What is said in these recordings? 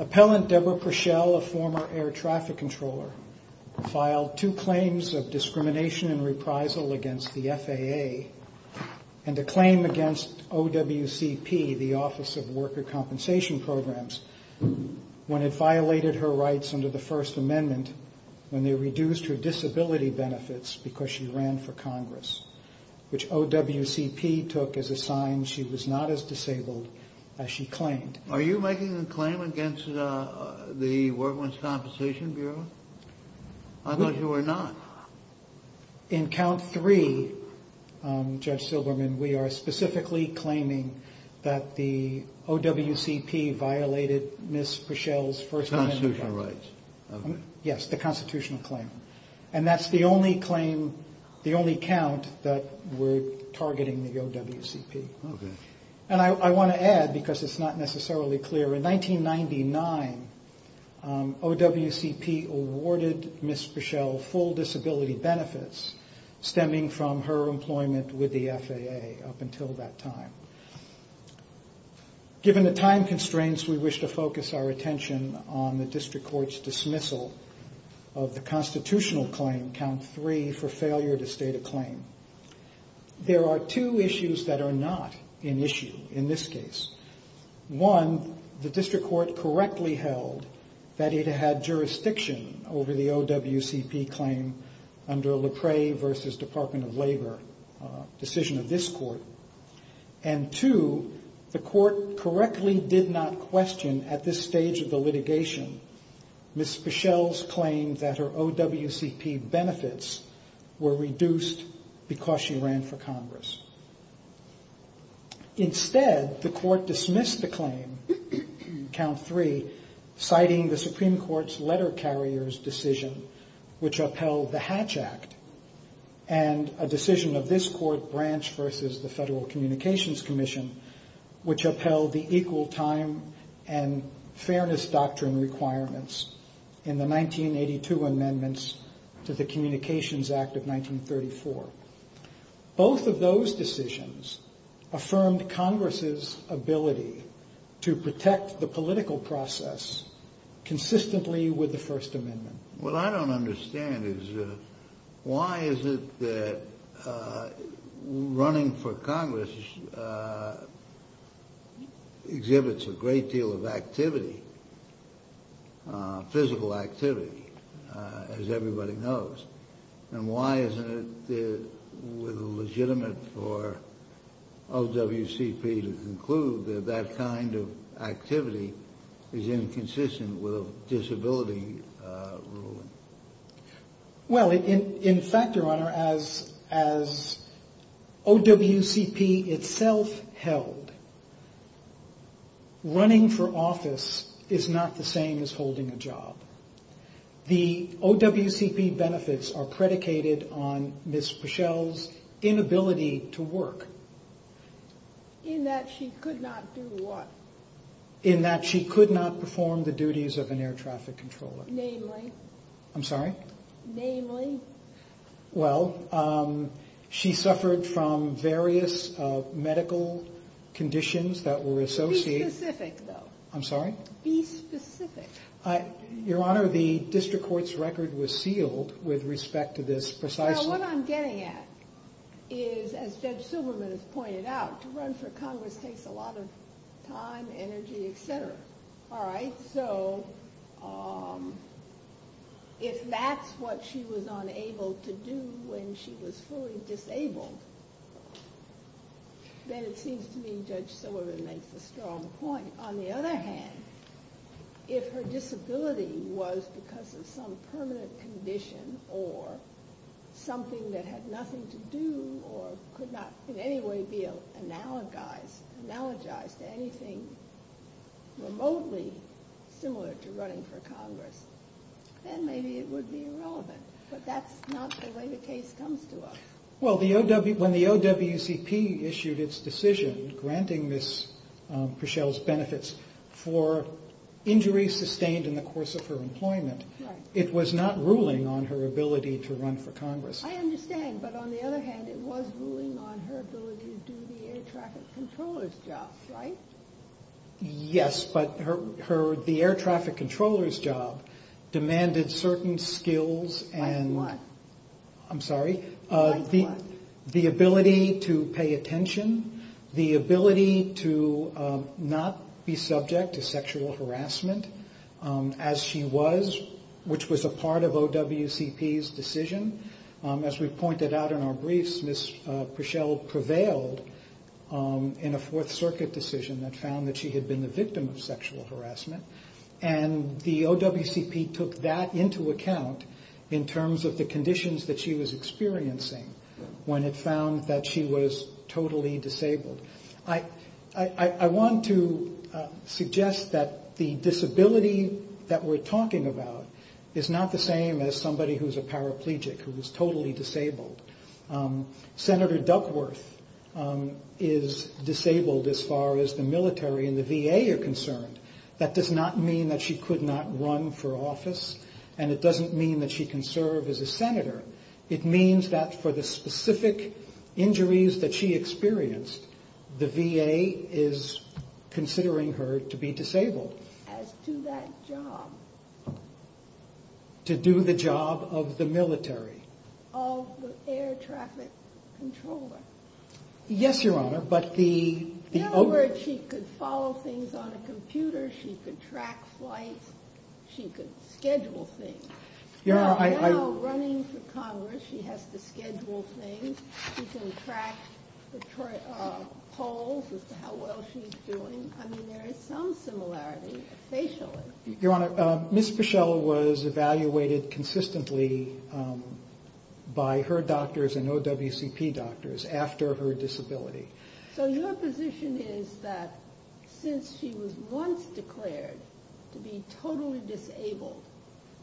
Appellant Deborah Puschel, a former air traffic controller, filed two claims of discrimination and reprisal against the FAA, and a claim against OWCP, the Office of Worker Compensation Programs, when it violated her rights under the First Amendment when they reduced her disability benefits because she ran for Congress, which OWCP took as a sign she was not as disabled as she claimed. Are you making a claim against the Worker Compensation Bureau? I thought you were not. In count three, Judge Silberman, we are specifically claiming that the OWCP violated Ms. Puschel's First Amendment rights. Constitutional rights. Yes, the constitutional claim. And that's the only claim, the only count, that we're targeting the OWCP. Okay. And I want to add, because it's not necessarily clear, in 1999, OWCP awarded Ms. Puschel full disability benefits stemming from her employment with the FAA up until that time. Given the time constraints, we wish to focus our attention on the district court's dismissal of the constitutional claim, count three, for failure to state a claim. There are two issues that are not in issue in this case. One, the district court correctly held that it had jurisdiction over the OWCP claim under LePray v. Department of Labor decision of this court. And two, the court correctly did not question at this stage of the litigation Ms. Puschel's claim that her OWCP benefits were reduced because she ran for Congress. Instead, the court dismissed the claim, count three, citing the Supreme Court's letter carrier's decision, which upheld the Hatch Act, and a decision of this court branch versus the Federal Communications Commission, which upheld the equal time and fairness doctrine requirements in the 1982 amendments to the Communications Act of 1934. Both of those decisions affirmed Congress's ability to protect the political process consistently with the First Amendment. What I don't understand is why is it that running for Congress exhibits a great deal of activity, physical activity, as everybody knows, and why isn't it legitimate for OWCP to conclude that that kind of activity is inconsistent with disability ruling? Well, in fact, Your Honor, as OWCP itself held, running for office is not the same as holding a job. The OWCP benefits are predicated on Ms. Puschel's inability to work. In that she could not do what? In that she could not perform the duties of an air traffic controller. Namely? I'm sorry? Namely? Well, she suffered from various medical conditions that were associated... Be specific, though. I'm sorry? Be specific. Your Honor, the district court's record was sealed with respect to this precisely. Well, what I'm getting at is, as Judge Silberman has pointed out, to run for Congress takes a lot of time, energy, etc. All right? So if that's what she was unable to do when she was fully disabled, then it seems to me Judge Silberman makes a strong point. On the other hand, if her disability was because of some permanent condition or something that had nothing to do or could not in any way be analogized to anything remotely similar to running for Congress, then maybe it would be irrelevant. But that's not the way the case comes to us. Well, when the OWCP issued its decision granting Ms. Prischel's benefits for injuries sustained in the course of her employment, it was not ruling on her ability to run for Congress. I understand, but on the other hand, it was ruling on her ability to do the air traffic controller's job, right? Yes, but the air traffic controller's job demanded certain skills and... Like what? I'm sorry? Like what? The ability to pay attention, the ability to not be subject to sexual harassment as she was, which was a part of OWCP's decision. As we pointed out in our briefs, Ms. Prischel prevailed in a Fourth Circuit decision that found that she had been the victim of sexual harassment. And the OWCP took that into account in terms of the conditions that she was experiencing when it found that she was totally disabled. I want to suggest that the disability that we're talking about is not the same as somebody who's a paraplegic, who is totally disabled. Senator Duckworth is disabled as far as the military and the VA are concerned. That does not mean that she could not run for office, and it doesn't mean that she can serve as a senator. It means that for the specific injuries that she experienced, the VA is considering her to be disabled. As to that job. To do the job of the military. Of the air traffic controller. Yes, Your Honor, but the... She could follow things on a computer. She could track flights. She could schedule things. You know, running for Congress, she has to schedule things. She can track polls as to how well she's doing. I mean, there is some similarity, facially. Your Honor, Ms. Prischel was evaluated consistently by her doctors and OWCP doctors after her disability. So your position is that since she was once declared to be totally disabled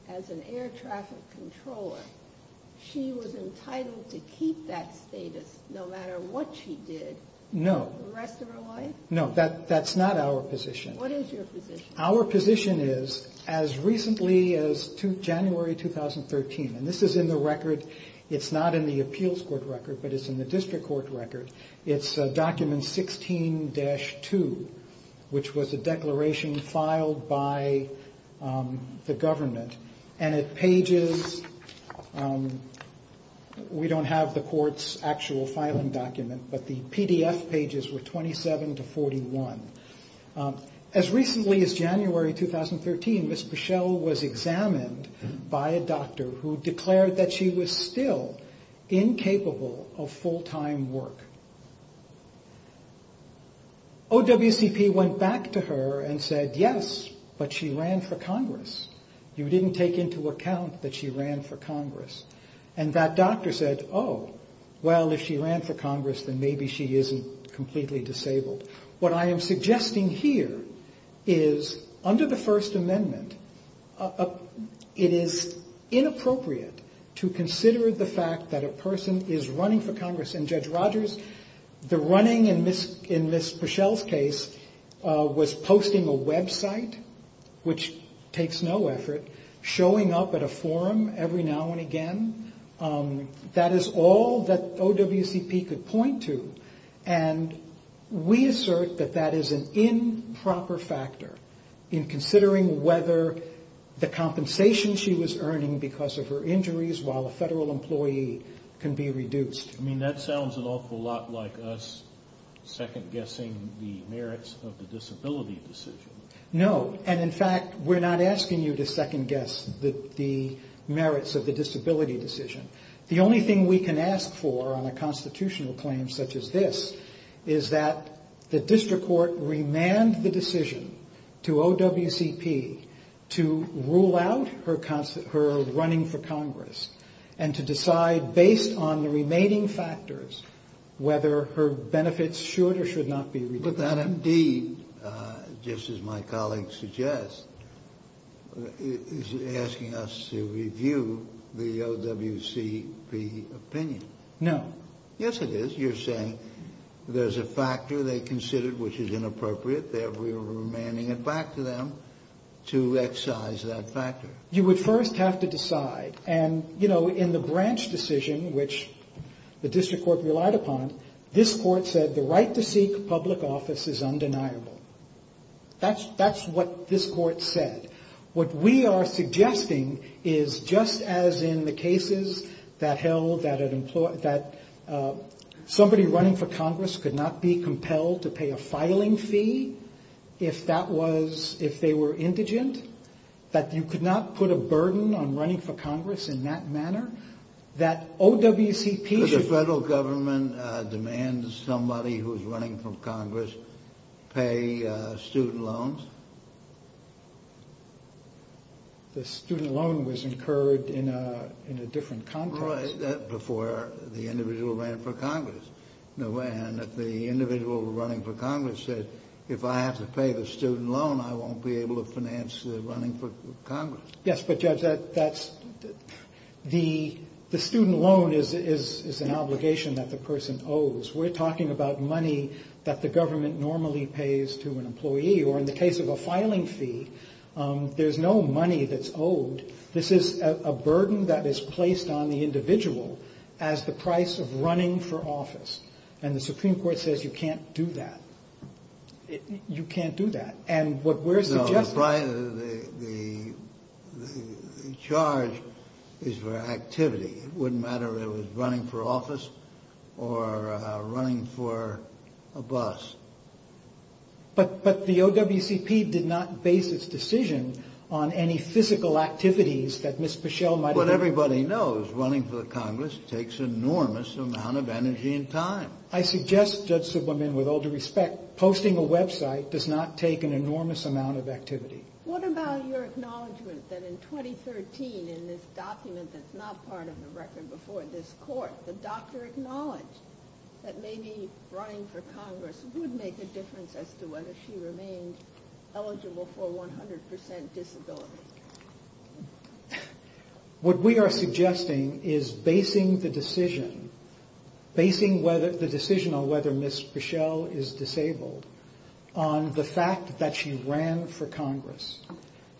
as an air traffic controller, she was entitled to keep that status no matter what she did. No. The rest of her life? No, that's not our position. What is your position? Our position is, as recently as January 2013, and this is in the record. It's document 16-2, which was a declaration filed by the government. And it pages... We don't have the court's actual filing document, but the PDF pages were 27 to 41. As recently as January 2013, Ms. Prischel was examined by a doctor who declared that she was still incapable of full-time work. OWCP went back to her and said, yes, but she ran for Congress. You didn't take into account that she ran for Congress. And that doctor said, oh, well, if she ran for Congress, then maybe she isn't completely disabled. What I am suggesting here is, under the First Amendment, it is inappropriate to consider the fact that a person is running for Congress. And, Judge Rogers, the running in Ms. Prischel's case was posting a website, which takes no effort, showing up at a forum every now and again. That is all that OWCP could point to. And we assert that that is an improper factor in considering whether the compensation she was earning because of her injuries while a federal employee can be reduced. I mean, that sounds an awful lot like us second-guessing the merits of the disability decision. No, and in fact, we're not asking you to second-guess the merits of the disability decision. The only thing we can ask for on a constitutional claim such as this is that the district court remand the decision to OWCP to rule out her running for Congress and to decide, based on the remaining factors, whether her benefits should or should not be reduced. But that, indeed, just as my colleague suggests, is asking us to review the OWCP opinion. No. Yes, it is. You're saying there's a factor they considered which is inappropriate. They're remanding it back to them to excise that factor. You would first have to decide. And, you know, in the branch decision, which the district court relied upon, this court said the right to seek public office is undeniable. That's what this court said. What we are suggesting is, just as in the cases that held that somebody running for Congress could not be compelled to pay a filing fee if they were indigent, that you could not put a burden on running for Congress in that manner, that OWCP should... The student loan was incurred in a different context. Right, before the individual ran for Congress. And if the individual running for Congress said, if I have to pay the student loan, I won't be able to finance the running for Congress. Yes, but, Judge, that's... The student loan is an obligation that the person owes. We're talking about money that the government normally pays to an employee. Or in the case of a filing fee, there's no money that's owed. This is a burden that is placed on the individual as the price of running for office. And the Supreme Court says you can't do that. You can't do that. And what we're suggesting... No, the charge is for activity. It wouldn't matter if it was running for office or running for a bus. But the OWCP did not base its decision on any physical activities that Ms. Pichelle might have... What everybody knows, running for Congress takes an enormous amount of energy and time. I suggest, Judge Subleman, with all due respect, posting a website does not take an enormous amount of activity. What about your acknowledgment that in 2013, in this document that's not part of the record before this court, the doctor acknowledged that maybe running for Congress would make a difference as to whether she remained eligible for 100% disability? What we are suggesting is basing the decision on whether Ms. Pichelle is disabled on the fact that she ran for Congress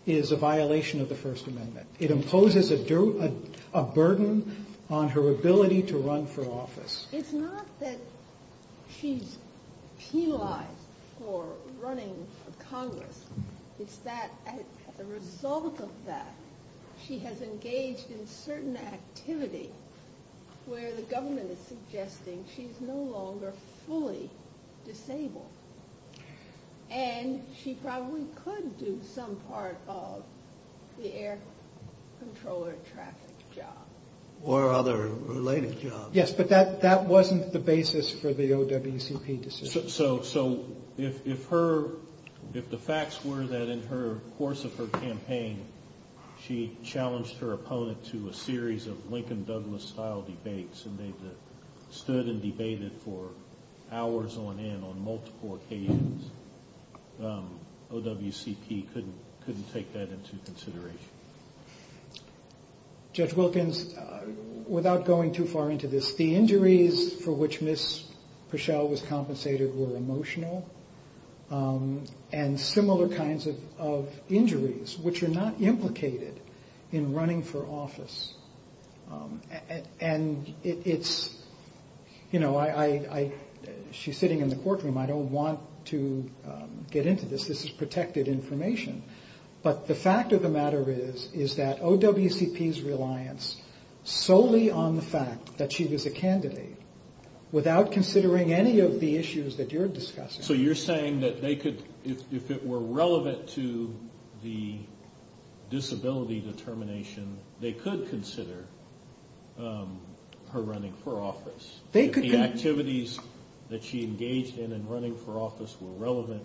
is a violation of the First Amendment. It imposes a burden on her ability to run for office. It's not that she's penalized for running for Congress. It's that as a result of that, she has engaged in certain activity where the government is suggesting she's no longer fully disabled. And she probably could do some part of the air controller traffic job. Or other related jobs. Yes, but that wasn't the basis for the OWCP decision. So if the facts were that in the course of her campaign, she challenged her opponent to a series of Lincoln-Douglas style debates and they stood and debated for hours on end on multiple occasions, OWCP couldn't take that into consideration. Judge Wilkins, without going too far into this, the injuries for which Ms. Pichelle was compensated were emotional and similar kinds of injuries which are not implicated in running for office. She's sitting in the courtroom. I don't want to get into this. This is protected information. But the fact of the matter is that OWCP's reliance solely on the fact that she was a candidate, without considering any of the issues that you're discussing. So you're saying that if it were relevant to the disability determination, they could consider her running for office. If the activities that she engaged in in running for office were relevant,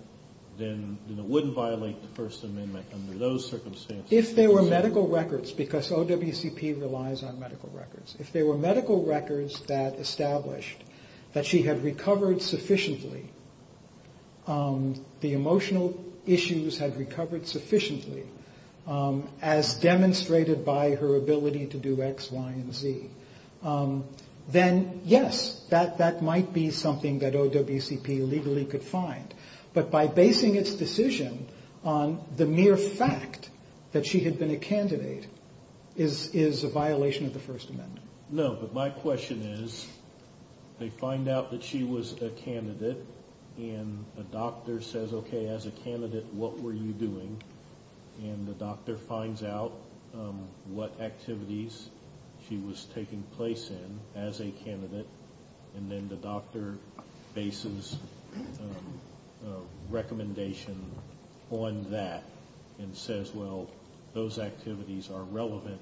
then it wouldn't violate the First Amendment under those circumstances. If there were medical records, because OWCP relies on medical records, if there were medical records that established that she had recovered sufficiently, the emotional issues had recovered sufficiently, as demonstrated by her ability to do X, Y, and Z, then, yes, that might be something that OWCP legally could find. But by basing its decision on the mere fact that she had been a candidate is a violation of the First Amendment. No, but my question is, they find out that she was a candidate, and a doctor says, okay, as a candidate, what were you doing? And the doctor finds out what activities she was taking place in as a candidate, and then the doctor bases a recommendation on that and says, well, those activities are relevant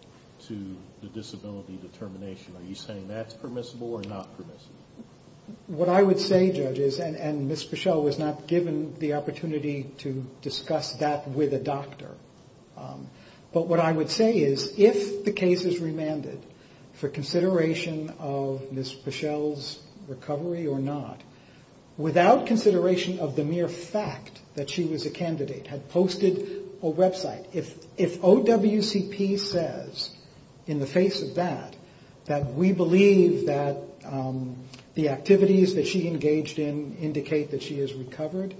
to the disability determination. Are you saying that's permissible or not permissible? What I would say, judges, and Ms. Peschel was not given the opportunity to discuss that with a doctor, but what I would say is if the case is remanded for consideration of Ms. Peschel's recovery or not, without consideration of the mere fact that she was a candidate, had posted a website, if OWCP says in the face of that that we believe that the activities that she engaged in indicate that she has recovered,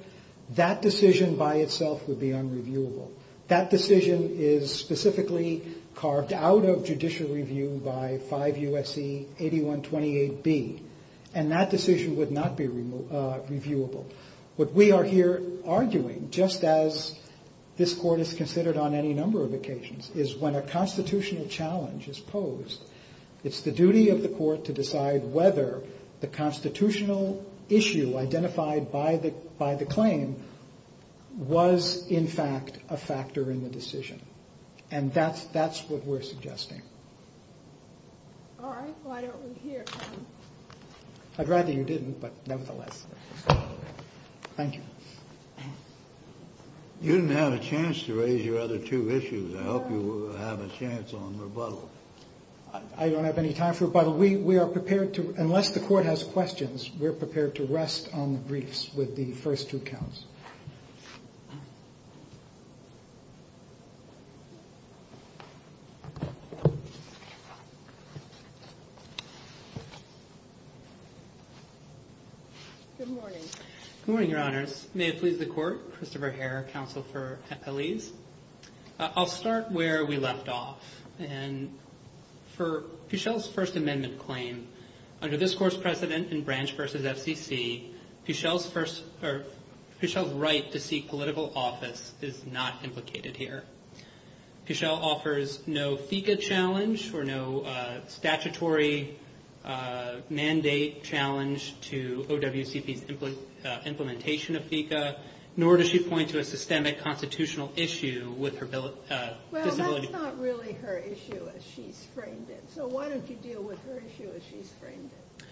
that decision by itself would be unreviewable. That decision is specifically carved out of judicial review by 5 U.S.C. 8128B, and that decision would not be reviewable. What we are here arguing, just as this Court has considered on any number of occasions, is when a constitutional challenge is posed, it's the duty of the Court to decide whether the constitutional issue identified by the claim was, in fact, a factor in the decision, and that's what we're suggesting. I'd rather you didn't, but nevertheless. Thank you. You didn't have a chance to raise your other two issues. I hope you have a chance on rebuttal. I don't have any time for rebuttal. We are prepared to, unless the Court has questions, we're prepared to rest on the briefs with the first two counts. Good morning. Good morning, Your Honors. May it please the Court, Christopher Herr, Counsel for Appellees. I'll start where we left off. For Fischel's First Amendment claim, under this Court's precedent in Branch v. FCC, Fischel's right to seek political office is not implicated here. Fischel offers no FICA challenge or no statutory mandate challenge to OWCP's implementation of FICA, nor does she point to a systemic constitutional issue with her disability claim. That's not really her issue as she's framed it. So why don't you deal with her issue as she's framed it?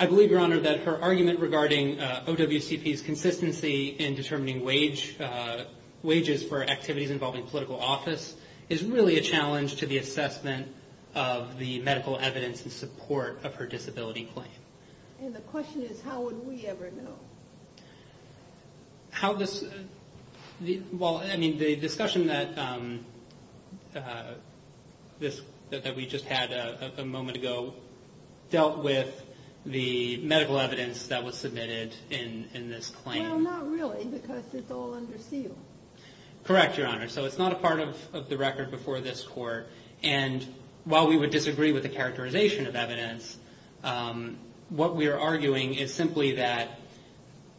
I believe, Your Honor, that her argument regarding OWCP's consistency in determining wages for activities involving political office is really a challenge to the assessment of the medical evidence in support of her disability claim. And the question is, how would we ever know? Well, I mean, the discussion that we just had a moment ago dealt with the medical evidence that was submitted in this claim. Well, not really, because it's all under seal. Correct, Your Honor. So it's not a part of the record before this Court. And while we would disagree with the characterization of evidence, what we are arguing is simply that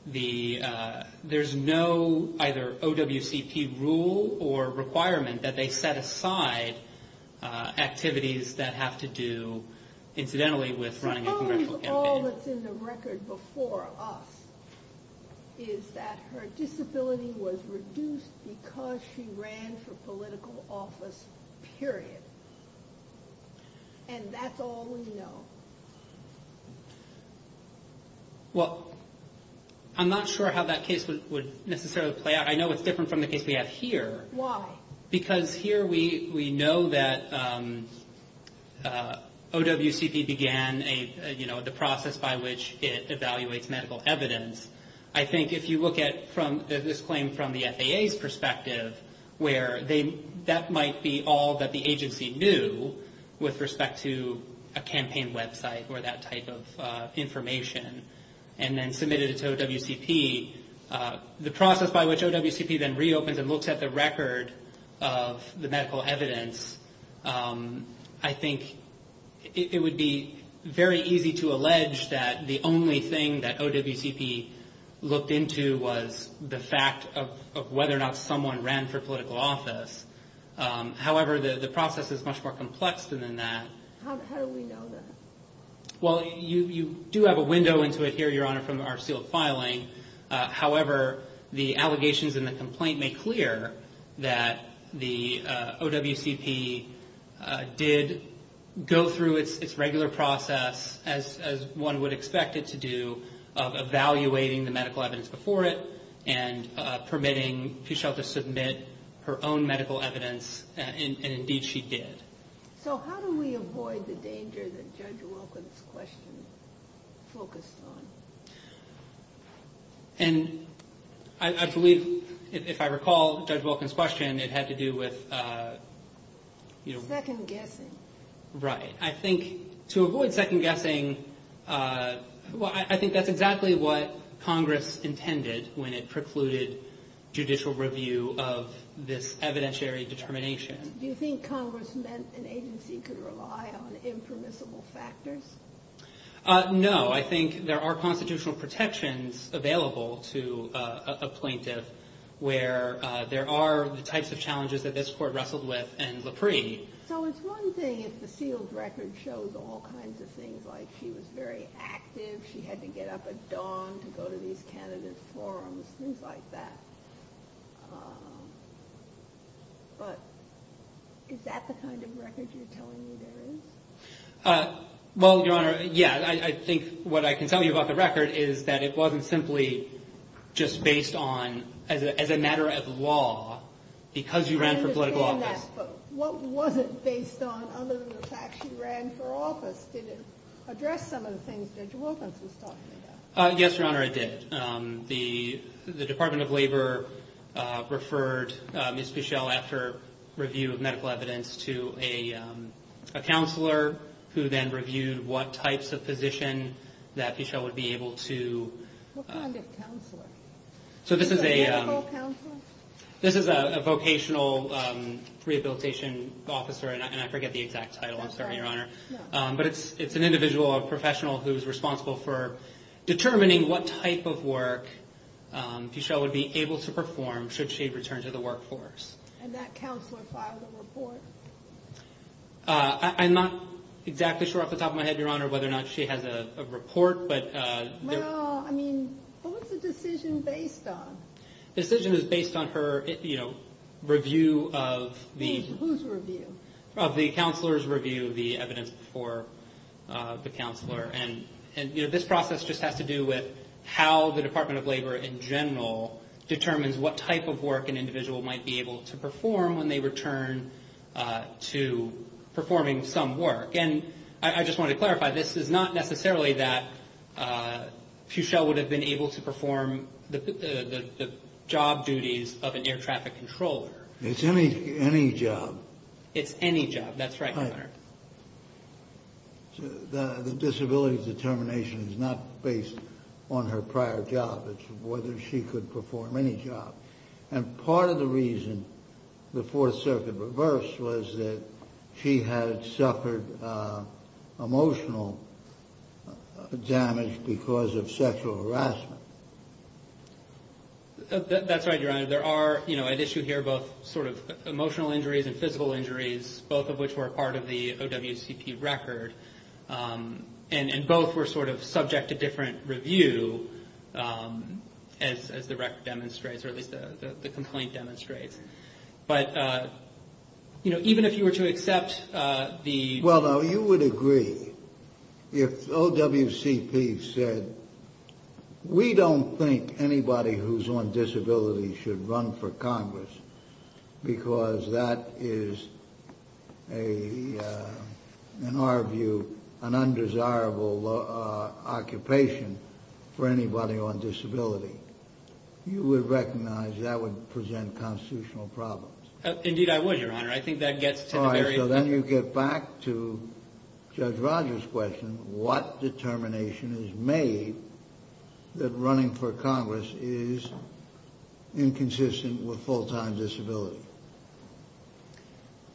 there's no either OWCP rule or requirement that they set aside activities that have to do, incidentally, with running a congressional campaign. Suppose all that's in the record before us is that her disability was reduced because she ran for political office, period. And that's all we know. Well, I'm not sure how that case would necessarily play out. I know it's different from the case we have here. Why? Because here we know that OWCP began the process by which it evaluates medical evidence. I think if you look at this claim from the FAA's perspective, where that might be all that the agency knew with respect to a campaign website or that type of information, and then submitted it to OWCP, the process by which OWCP then reopens and looks at the record of the medical evidence, I think it would be very easy to allege that the only thing that OWCP looked into was the fact of whether or not someone ran for political office. However, the process is much more complex than that. How do we know that? Well, you do have a window into it here, Your Honor, from our sealed filing. However, the allegations in the complaint make clear that the OWCP did go through its regular process, as one would expect it to do, of evaluating the medical evidence before it and permitting Fuchsia to submit her own medical evidence, and indeed she did. So how do we avoid the danger that Judge Wilkins' question focused on? I believe, if I recall Judge Wilkins' question, it had to do with— Second guessing. Right. I think to avoid second guessing, I think that's exactly what Congress intended when it precluded judicial review of this evidentiary determination. Do you think Congress meant an agency could rely on impermissible factors? No. I think there are constitutional protections available to a plaintiff where there are the types of challenges that this Court wrestled with and Lapre. So it's one thing if the sealed record shows all kinds of things, like she was very active, she had to get up at dawn to go to these candidates' forums, things like that. But is that the kind of record you're telling me there is? Well, Your Honor, yeah. I think what I can tell you about the record is that it wasn't simply just based on— as a matter of law, because you ran for political office— what was it based on other than the fact she ran for office? Did it address some of the things Judge Wilkins was talking about? Yes, Your Honor, it did. The Department of Labor referred Ms. Fischel after review of medical evidence to a counselor who then reviewed what types of physician that Fischel would be able to— What kind of counselor? A medical counselor? This is a vocational rehabilitation officer, and I forget the exact title. I'm sorry, Your Honor. No. But it's an individual, a professional who's responsible for determining what type of work Fischel would be able to perform should she return to the workforce. And that counselor filed a report? I'm not exactly sure off the top of my head, Your Honor, whether or not she has a report. Well, I mean, what was the decision based on? The decision was based on her review of the— Whose review? Of the counselor's review of the evidence before the counselor. And this process just has to do with how the Department of Labor in general determines what type of work an individual might be able to perform when they return to performing some work. And I just want to clarify, this is not necessarily that Fischel would have been able to perform the job duties of an air traffic controller. It's any job. It's any job. That's right, Your Honor. The disability determination is not based on her prior job. It's whether she could perform any job. And part of the reason the Fourth Circuit reversed was that she had suffered emotional damage because of sexual harassment. That's right, Your Honor. There are, you know, at issue here both sort of emotional injuries and physical injuries, both of which were a part of the OWCP record. And both were sort of subject to different review as the record demonstrates or at least the complaint demonstrates. But, you know, even if you were to accept the— Well, you would agree if OWCP said, we don't think anybody who's on disability should run for Congress because that is, in our view, an undesirable occupation for anybody on disability. You would recognize that would present constitutional problems. Indeed, I would, Your Honor. I think that gets to the very— So then you get back to Judge Rogers' question, what determination is made that running for Congress is inconsistent with full-time disability?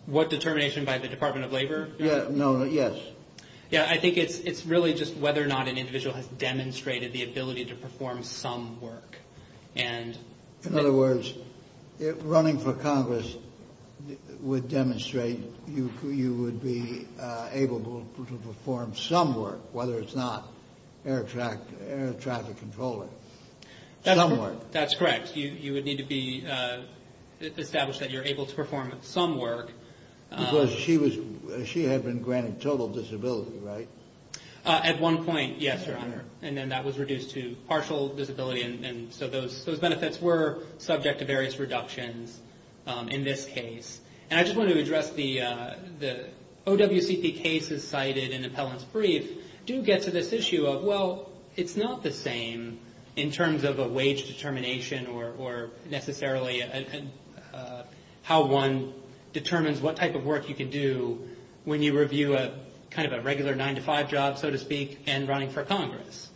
What determination by the Department of Labor? Yes. I think it's really just whether or not an individual has demonstrated the ability to perform some work. In other words, running for Congress would demonstrate you would be able to perform some work, whether it's not air traffic controller. Some work. That's correct. You would need to be established that you're able to perform some work. Because she had been granted total disability, right? At one point, yes, Your Honor. And then that was reduced to partial disability. And so those benefits were subject to various reductions in this case. And I just want to address the— OWCP cases cited in appellant's brief do get to this issue of, well, it's not the same in terms of a wage determination or necessarily how one determines what type of work you can do when you review a kind of a regular 9-to-5 job, so to speak, and running for Congress.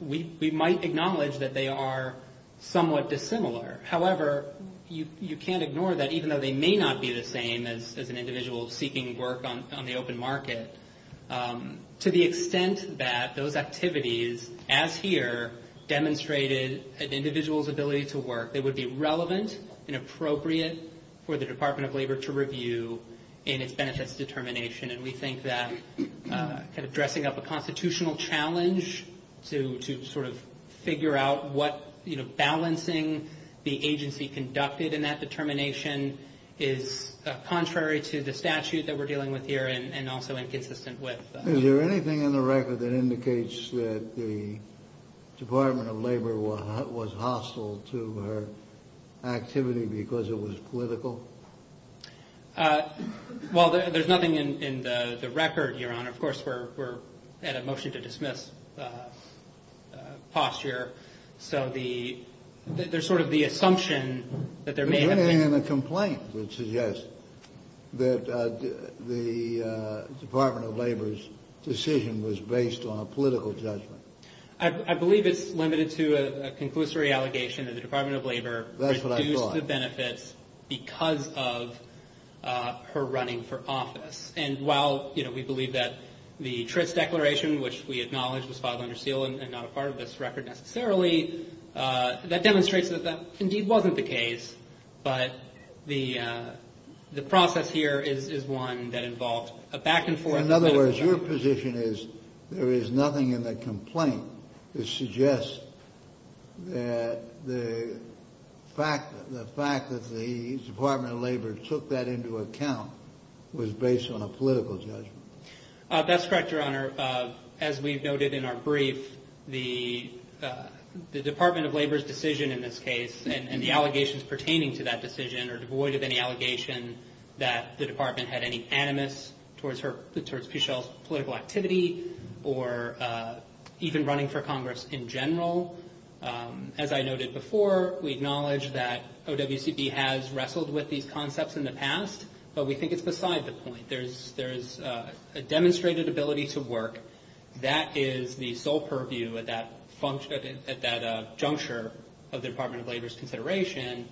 We might acknowledge that they are somewhat dissimilar. However, you can't ignore that, even though they may not be the same as an individual seeking work on the open market. To the extent that those activities, as here, demonstrated an individual's ability to work, they would be relevant and appropriate for the Department of Labor to review in its benefits determination. And we think that kind of dressing up a constitutional challenge to sort of figure out what, you know, balancing the agency conducted in that determination is contrary to the statute that we're dealing with here and also inconsistent with. Is there anything in the record that indicates that the Department of Labor was hostile to her activity because it was political? Well, there's nothing in the record, Your Honor. Of course, we're at a motion to dismiss posture. So there's sort of the assumption that there may have been— was based on a political judgment. I believe it's limited to a conclusory allegation that the Department of Labor— That's what I thought. —reduced the benefits because of her running for office. And while, you know, we believe that the Tritts Declaration, which we acknowledge was filed under seal and not a part of this record necessarily, that demonstrates that that indeed wasn't the case, but the process here is one that involved a back-and-forth— In other words, your position is there is nothing in the complaint that suggests that the fact that the Department of Labor took that into account was based on a political judgment. That's correct, Your Honor. Your Honor, as we've noted in our brief, the Department of Labor's decision in this case and the allegations pertaining to that decision are devoid of any allegation that the Department had any animus towards Pichelle's political activity or even running for Congress in general. As I noted before, we acknowledge that OWCB has wrestled with these concepts in the past, but we think it's beside the point. There's a demonstrated ability to work. That is the sole purview at that juncture of the Department of Labor's consideration,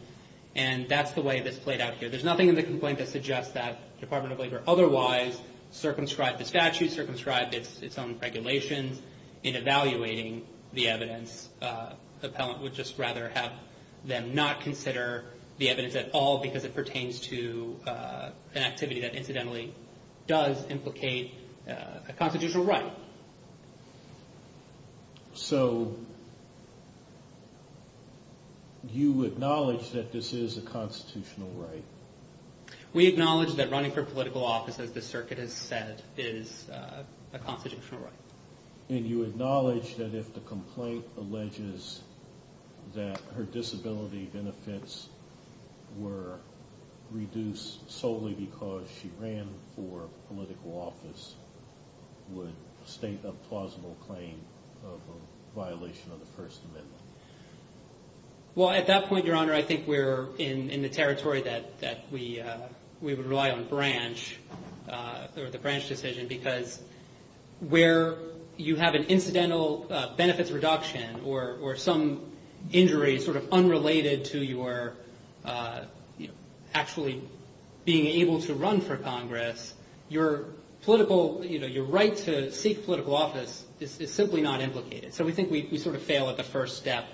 and that's the way this played out here. There's nothing in the complaint that suggests that the Department of Labor otherwise circumscribed the statute, circumscribed its own regulations in evaluating the evidence. We would just rather have them not consider the evidence at all because it pertains to an activity that incidentally does implicate a constitutional right. So you acknowledge that this is a constitutional right? We acknowledge that running for political office, as the circuit has said, is a constitutional right. And you acknowledge that if the complaint alleges that her disability benefits were reduced solely because she ran for political office, would state a plausible claim of a violation of the First Amendment? Well, at that point, Your Honor, I think we're in the territory that we would rely on branch, or the branch decision, because where you have an incidental benefits reduction or some injury sort of unrelated to your actually being able to run for Congress, your political, you know, your right to seek political office is simply not implicated. So we think we sort of fail at the first step.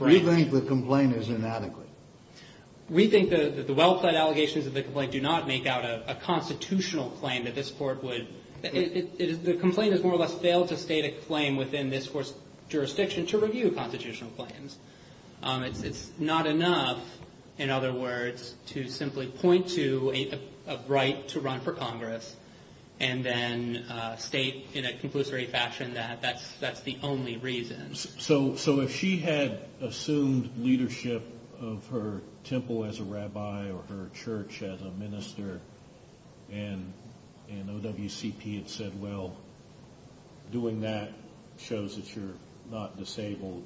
We think the complaint is inadequate. We think that the well-plaid allegations of the complaint do not make out a constitutional claim that this court would, the complaint has more or less failed to state a claim within this court's jurisdiction to review constitutional claims. It's not enough, in other words, to simply point to a right to run for Congress and then state in a conclusory fashion that that's the only reason. So if she had assumed leadership of her temple as a rabbi or her church as a minister and OWCP had said, well, doing that shows that you're not disabled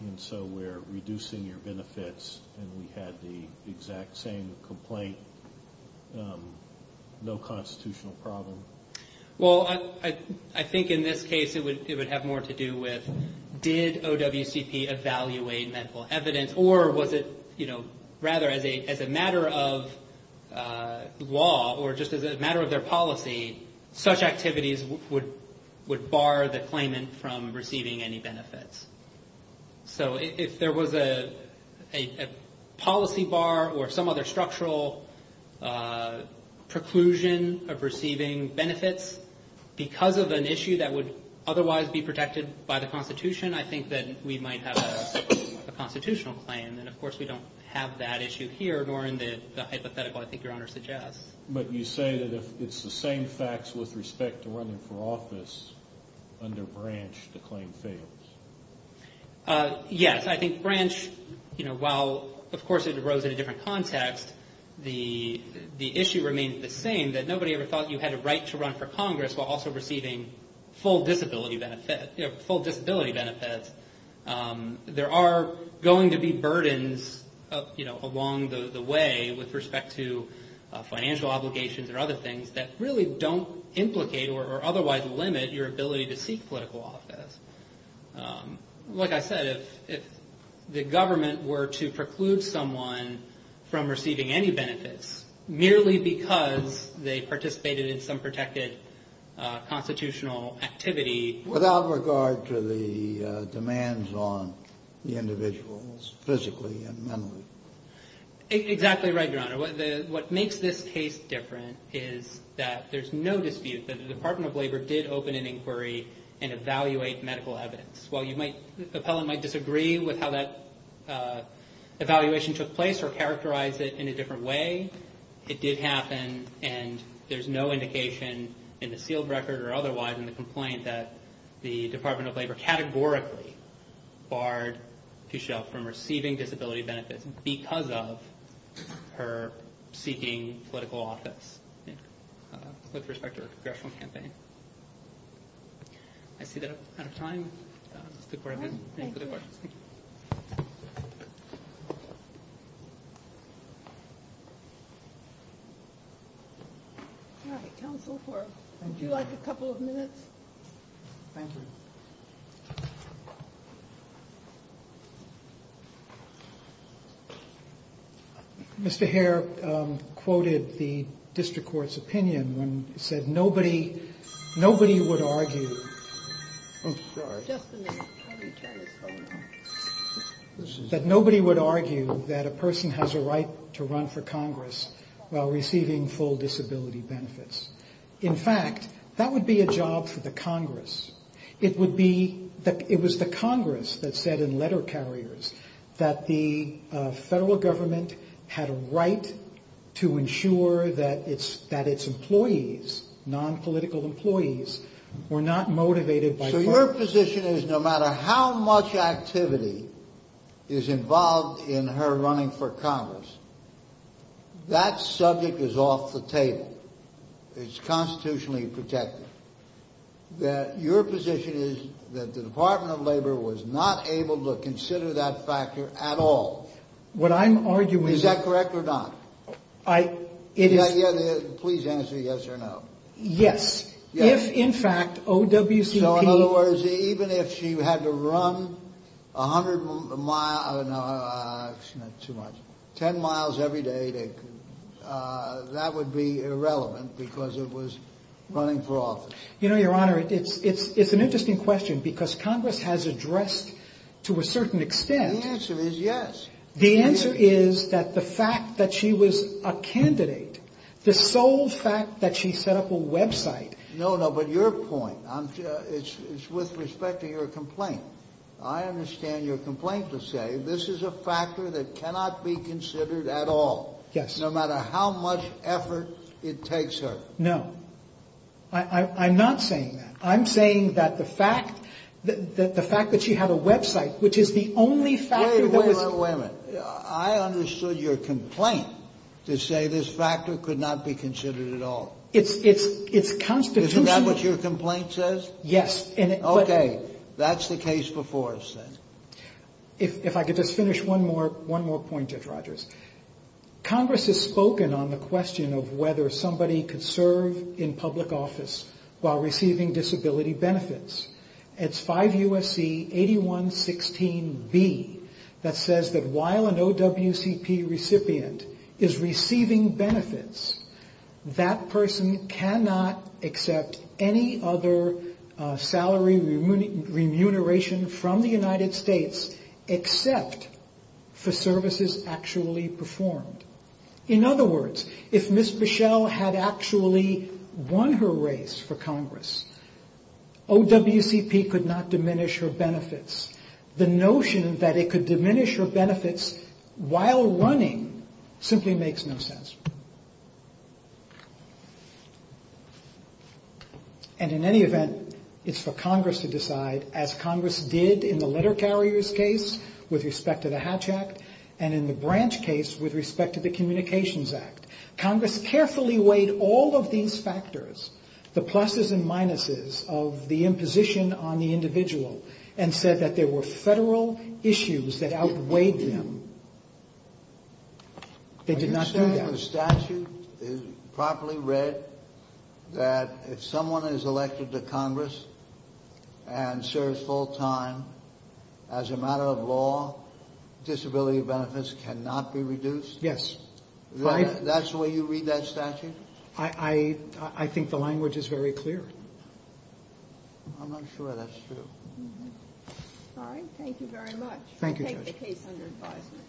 and so we're reducing your benefits and we had the exact same complaint, no constitutional problem? Well, I think in this case it would have more to do with did OWCP evaluate medical evidence or was it, you know, rather as a matter of law or just as a matter of their policy, such activities would bar the claimant from receiving any benefits. So if there was a policy bar or some other structural preclusion of receiving benefits because of an issue that would otherwise be protected by the Constitution, I think that we might have a constitutional claim and, of course, we don't have that issue here nor in the hypothetical I think Your Honor suggests. But you say that if it's the same facts with respect to running for office under Branch, the claim fails. Yes, I think Branch, you know, while of course it arose in a different context, the issue remains the same that nobody ever thought you had a right to run for Congress while also receiving full disability benefits. There are going to be burdens, you know, along the way with respect to financial obligations or other things that really don't implicate or otherwise limit your ability to seek political office. Like I said, if the government were to preclude someone from receiving any benefits merely because they participated in some protected constitutional activity. Without regard to the demands on the individuals physically and mentally. Exactly right, Your Honor. What makes this case different is that there's no dispute that the Department of Labor did open an inquiry and evaluate medical evidence. While you might, the appellant might disagree with how that evaluation took place or characterize it in a different way, it did happen and there's no indication in the sealed record or otherwise in the complaint that the Department of Labor categorically barred Tushel from receiving disability benefits because of her seeking political office with respect to her congressional campaign. I see that I'm out of time. All right, thank you. All right, counsel, would you like a couple of minutes? Thank you. Mr. Hare quoted the district court's opinion when he said nobody would argue. Oh, sorry. That nobody would argue that a person has a right to run for Congress while receiving full disability benefits. In fact, that would be a job for the Congress. It would be that it was the Congress that said in letter carriers that the federal government had a right to ensure that its employees, nonpolitical employees, were not motivated by. So your position is no matter how much activity is involved in her running for Congress, that subject is off the table. It's constitutionally protected. Your position is that the Department of Labor was not able to consider that factor at all. What I'm arguing. Is that correct or not? Please answer yes or no. Yes. Yes. In fact, O.W.C.P. Even if she had to run 100 miles, 10 miles every day, that would be irrelevant because it was running for office. You know, Your Honor, it's an interesting question because Congress has addressed to a certain extent. The answer is yes. The answer is that the fact that she was a candidate, the sole fact that she set up a website. No, no. But your point, it's with respect to your complaint. I understand your complaint to say this is a factor that cannot be considered at all. Yes. No matter how much effort it takes her. No, I'm not saying that. I'm saying that the fact that she had a website, which is the only factor that was. Wait a minute, wait a minute. I understood your complaint to say this factor could not be considered at all. Isn't that what your complaint says? Yes. Okay. That's the case before us then. If I could just finish one more point, Judge Rogers. Congress has spoken on the question of whether somebody could serve in public office while receiving disability benefits. It's 5 U.S.C. 81-16-B that says that while an OWCP recipient is receiving benefits, that person cannot accept any other salary remuneration from the United States except for services actually performed. In other words, if Ms. Bichelle had actually won her race for Congress, OWCP could not diminish her benefits. The notion that it could diminish her benefits while running simply makes no sense. And in any event, it's for Congress to decide, as Congress did in the letter carriers case with respect to the Hatch Act, and in the branch case with respect to the Communications Act. Congress carefully weighed all of these factors, the pluses and minuses of the imposition on the individual, and said that there were federal issues that outweighed them. They did not do that. The statute is properly read that if someone is elected to Congress and serves full time, as a matter of law, disability benefits cannot be reduced? Yes. That's the way you read that statute? I think the language is very clear. I'm not sure that's true. All right, thank you very much. Thank you, Judge. I take the case under advisement.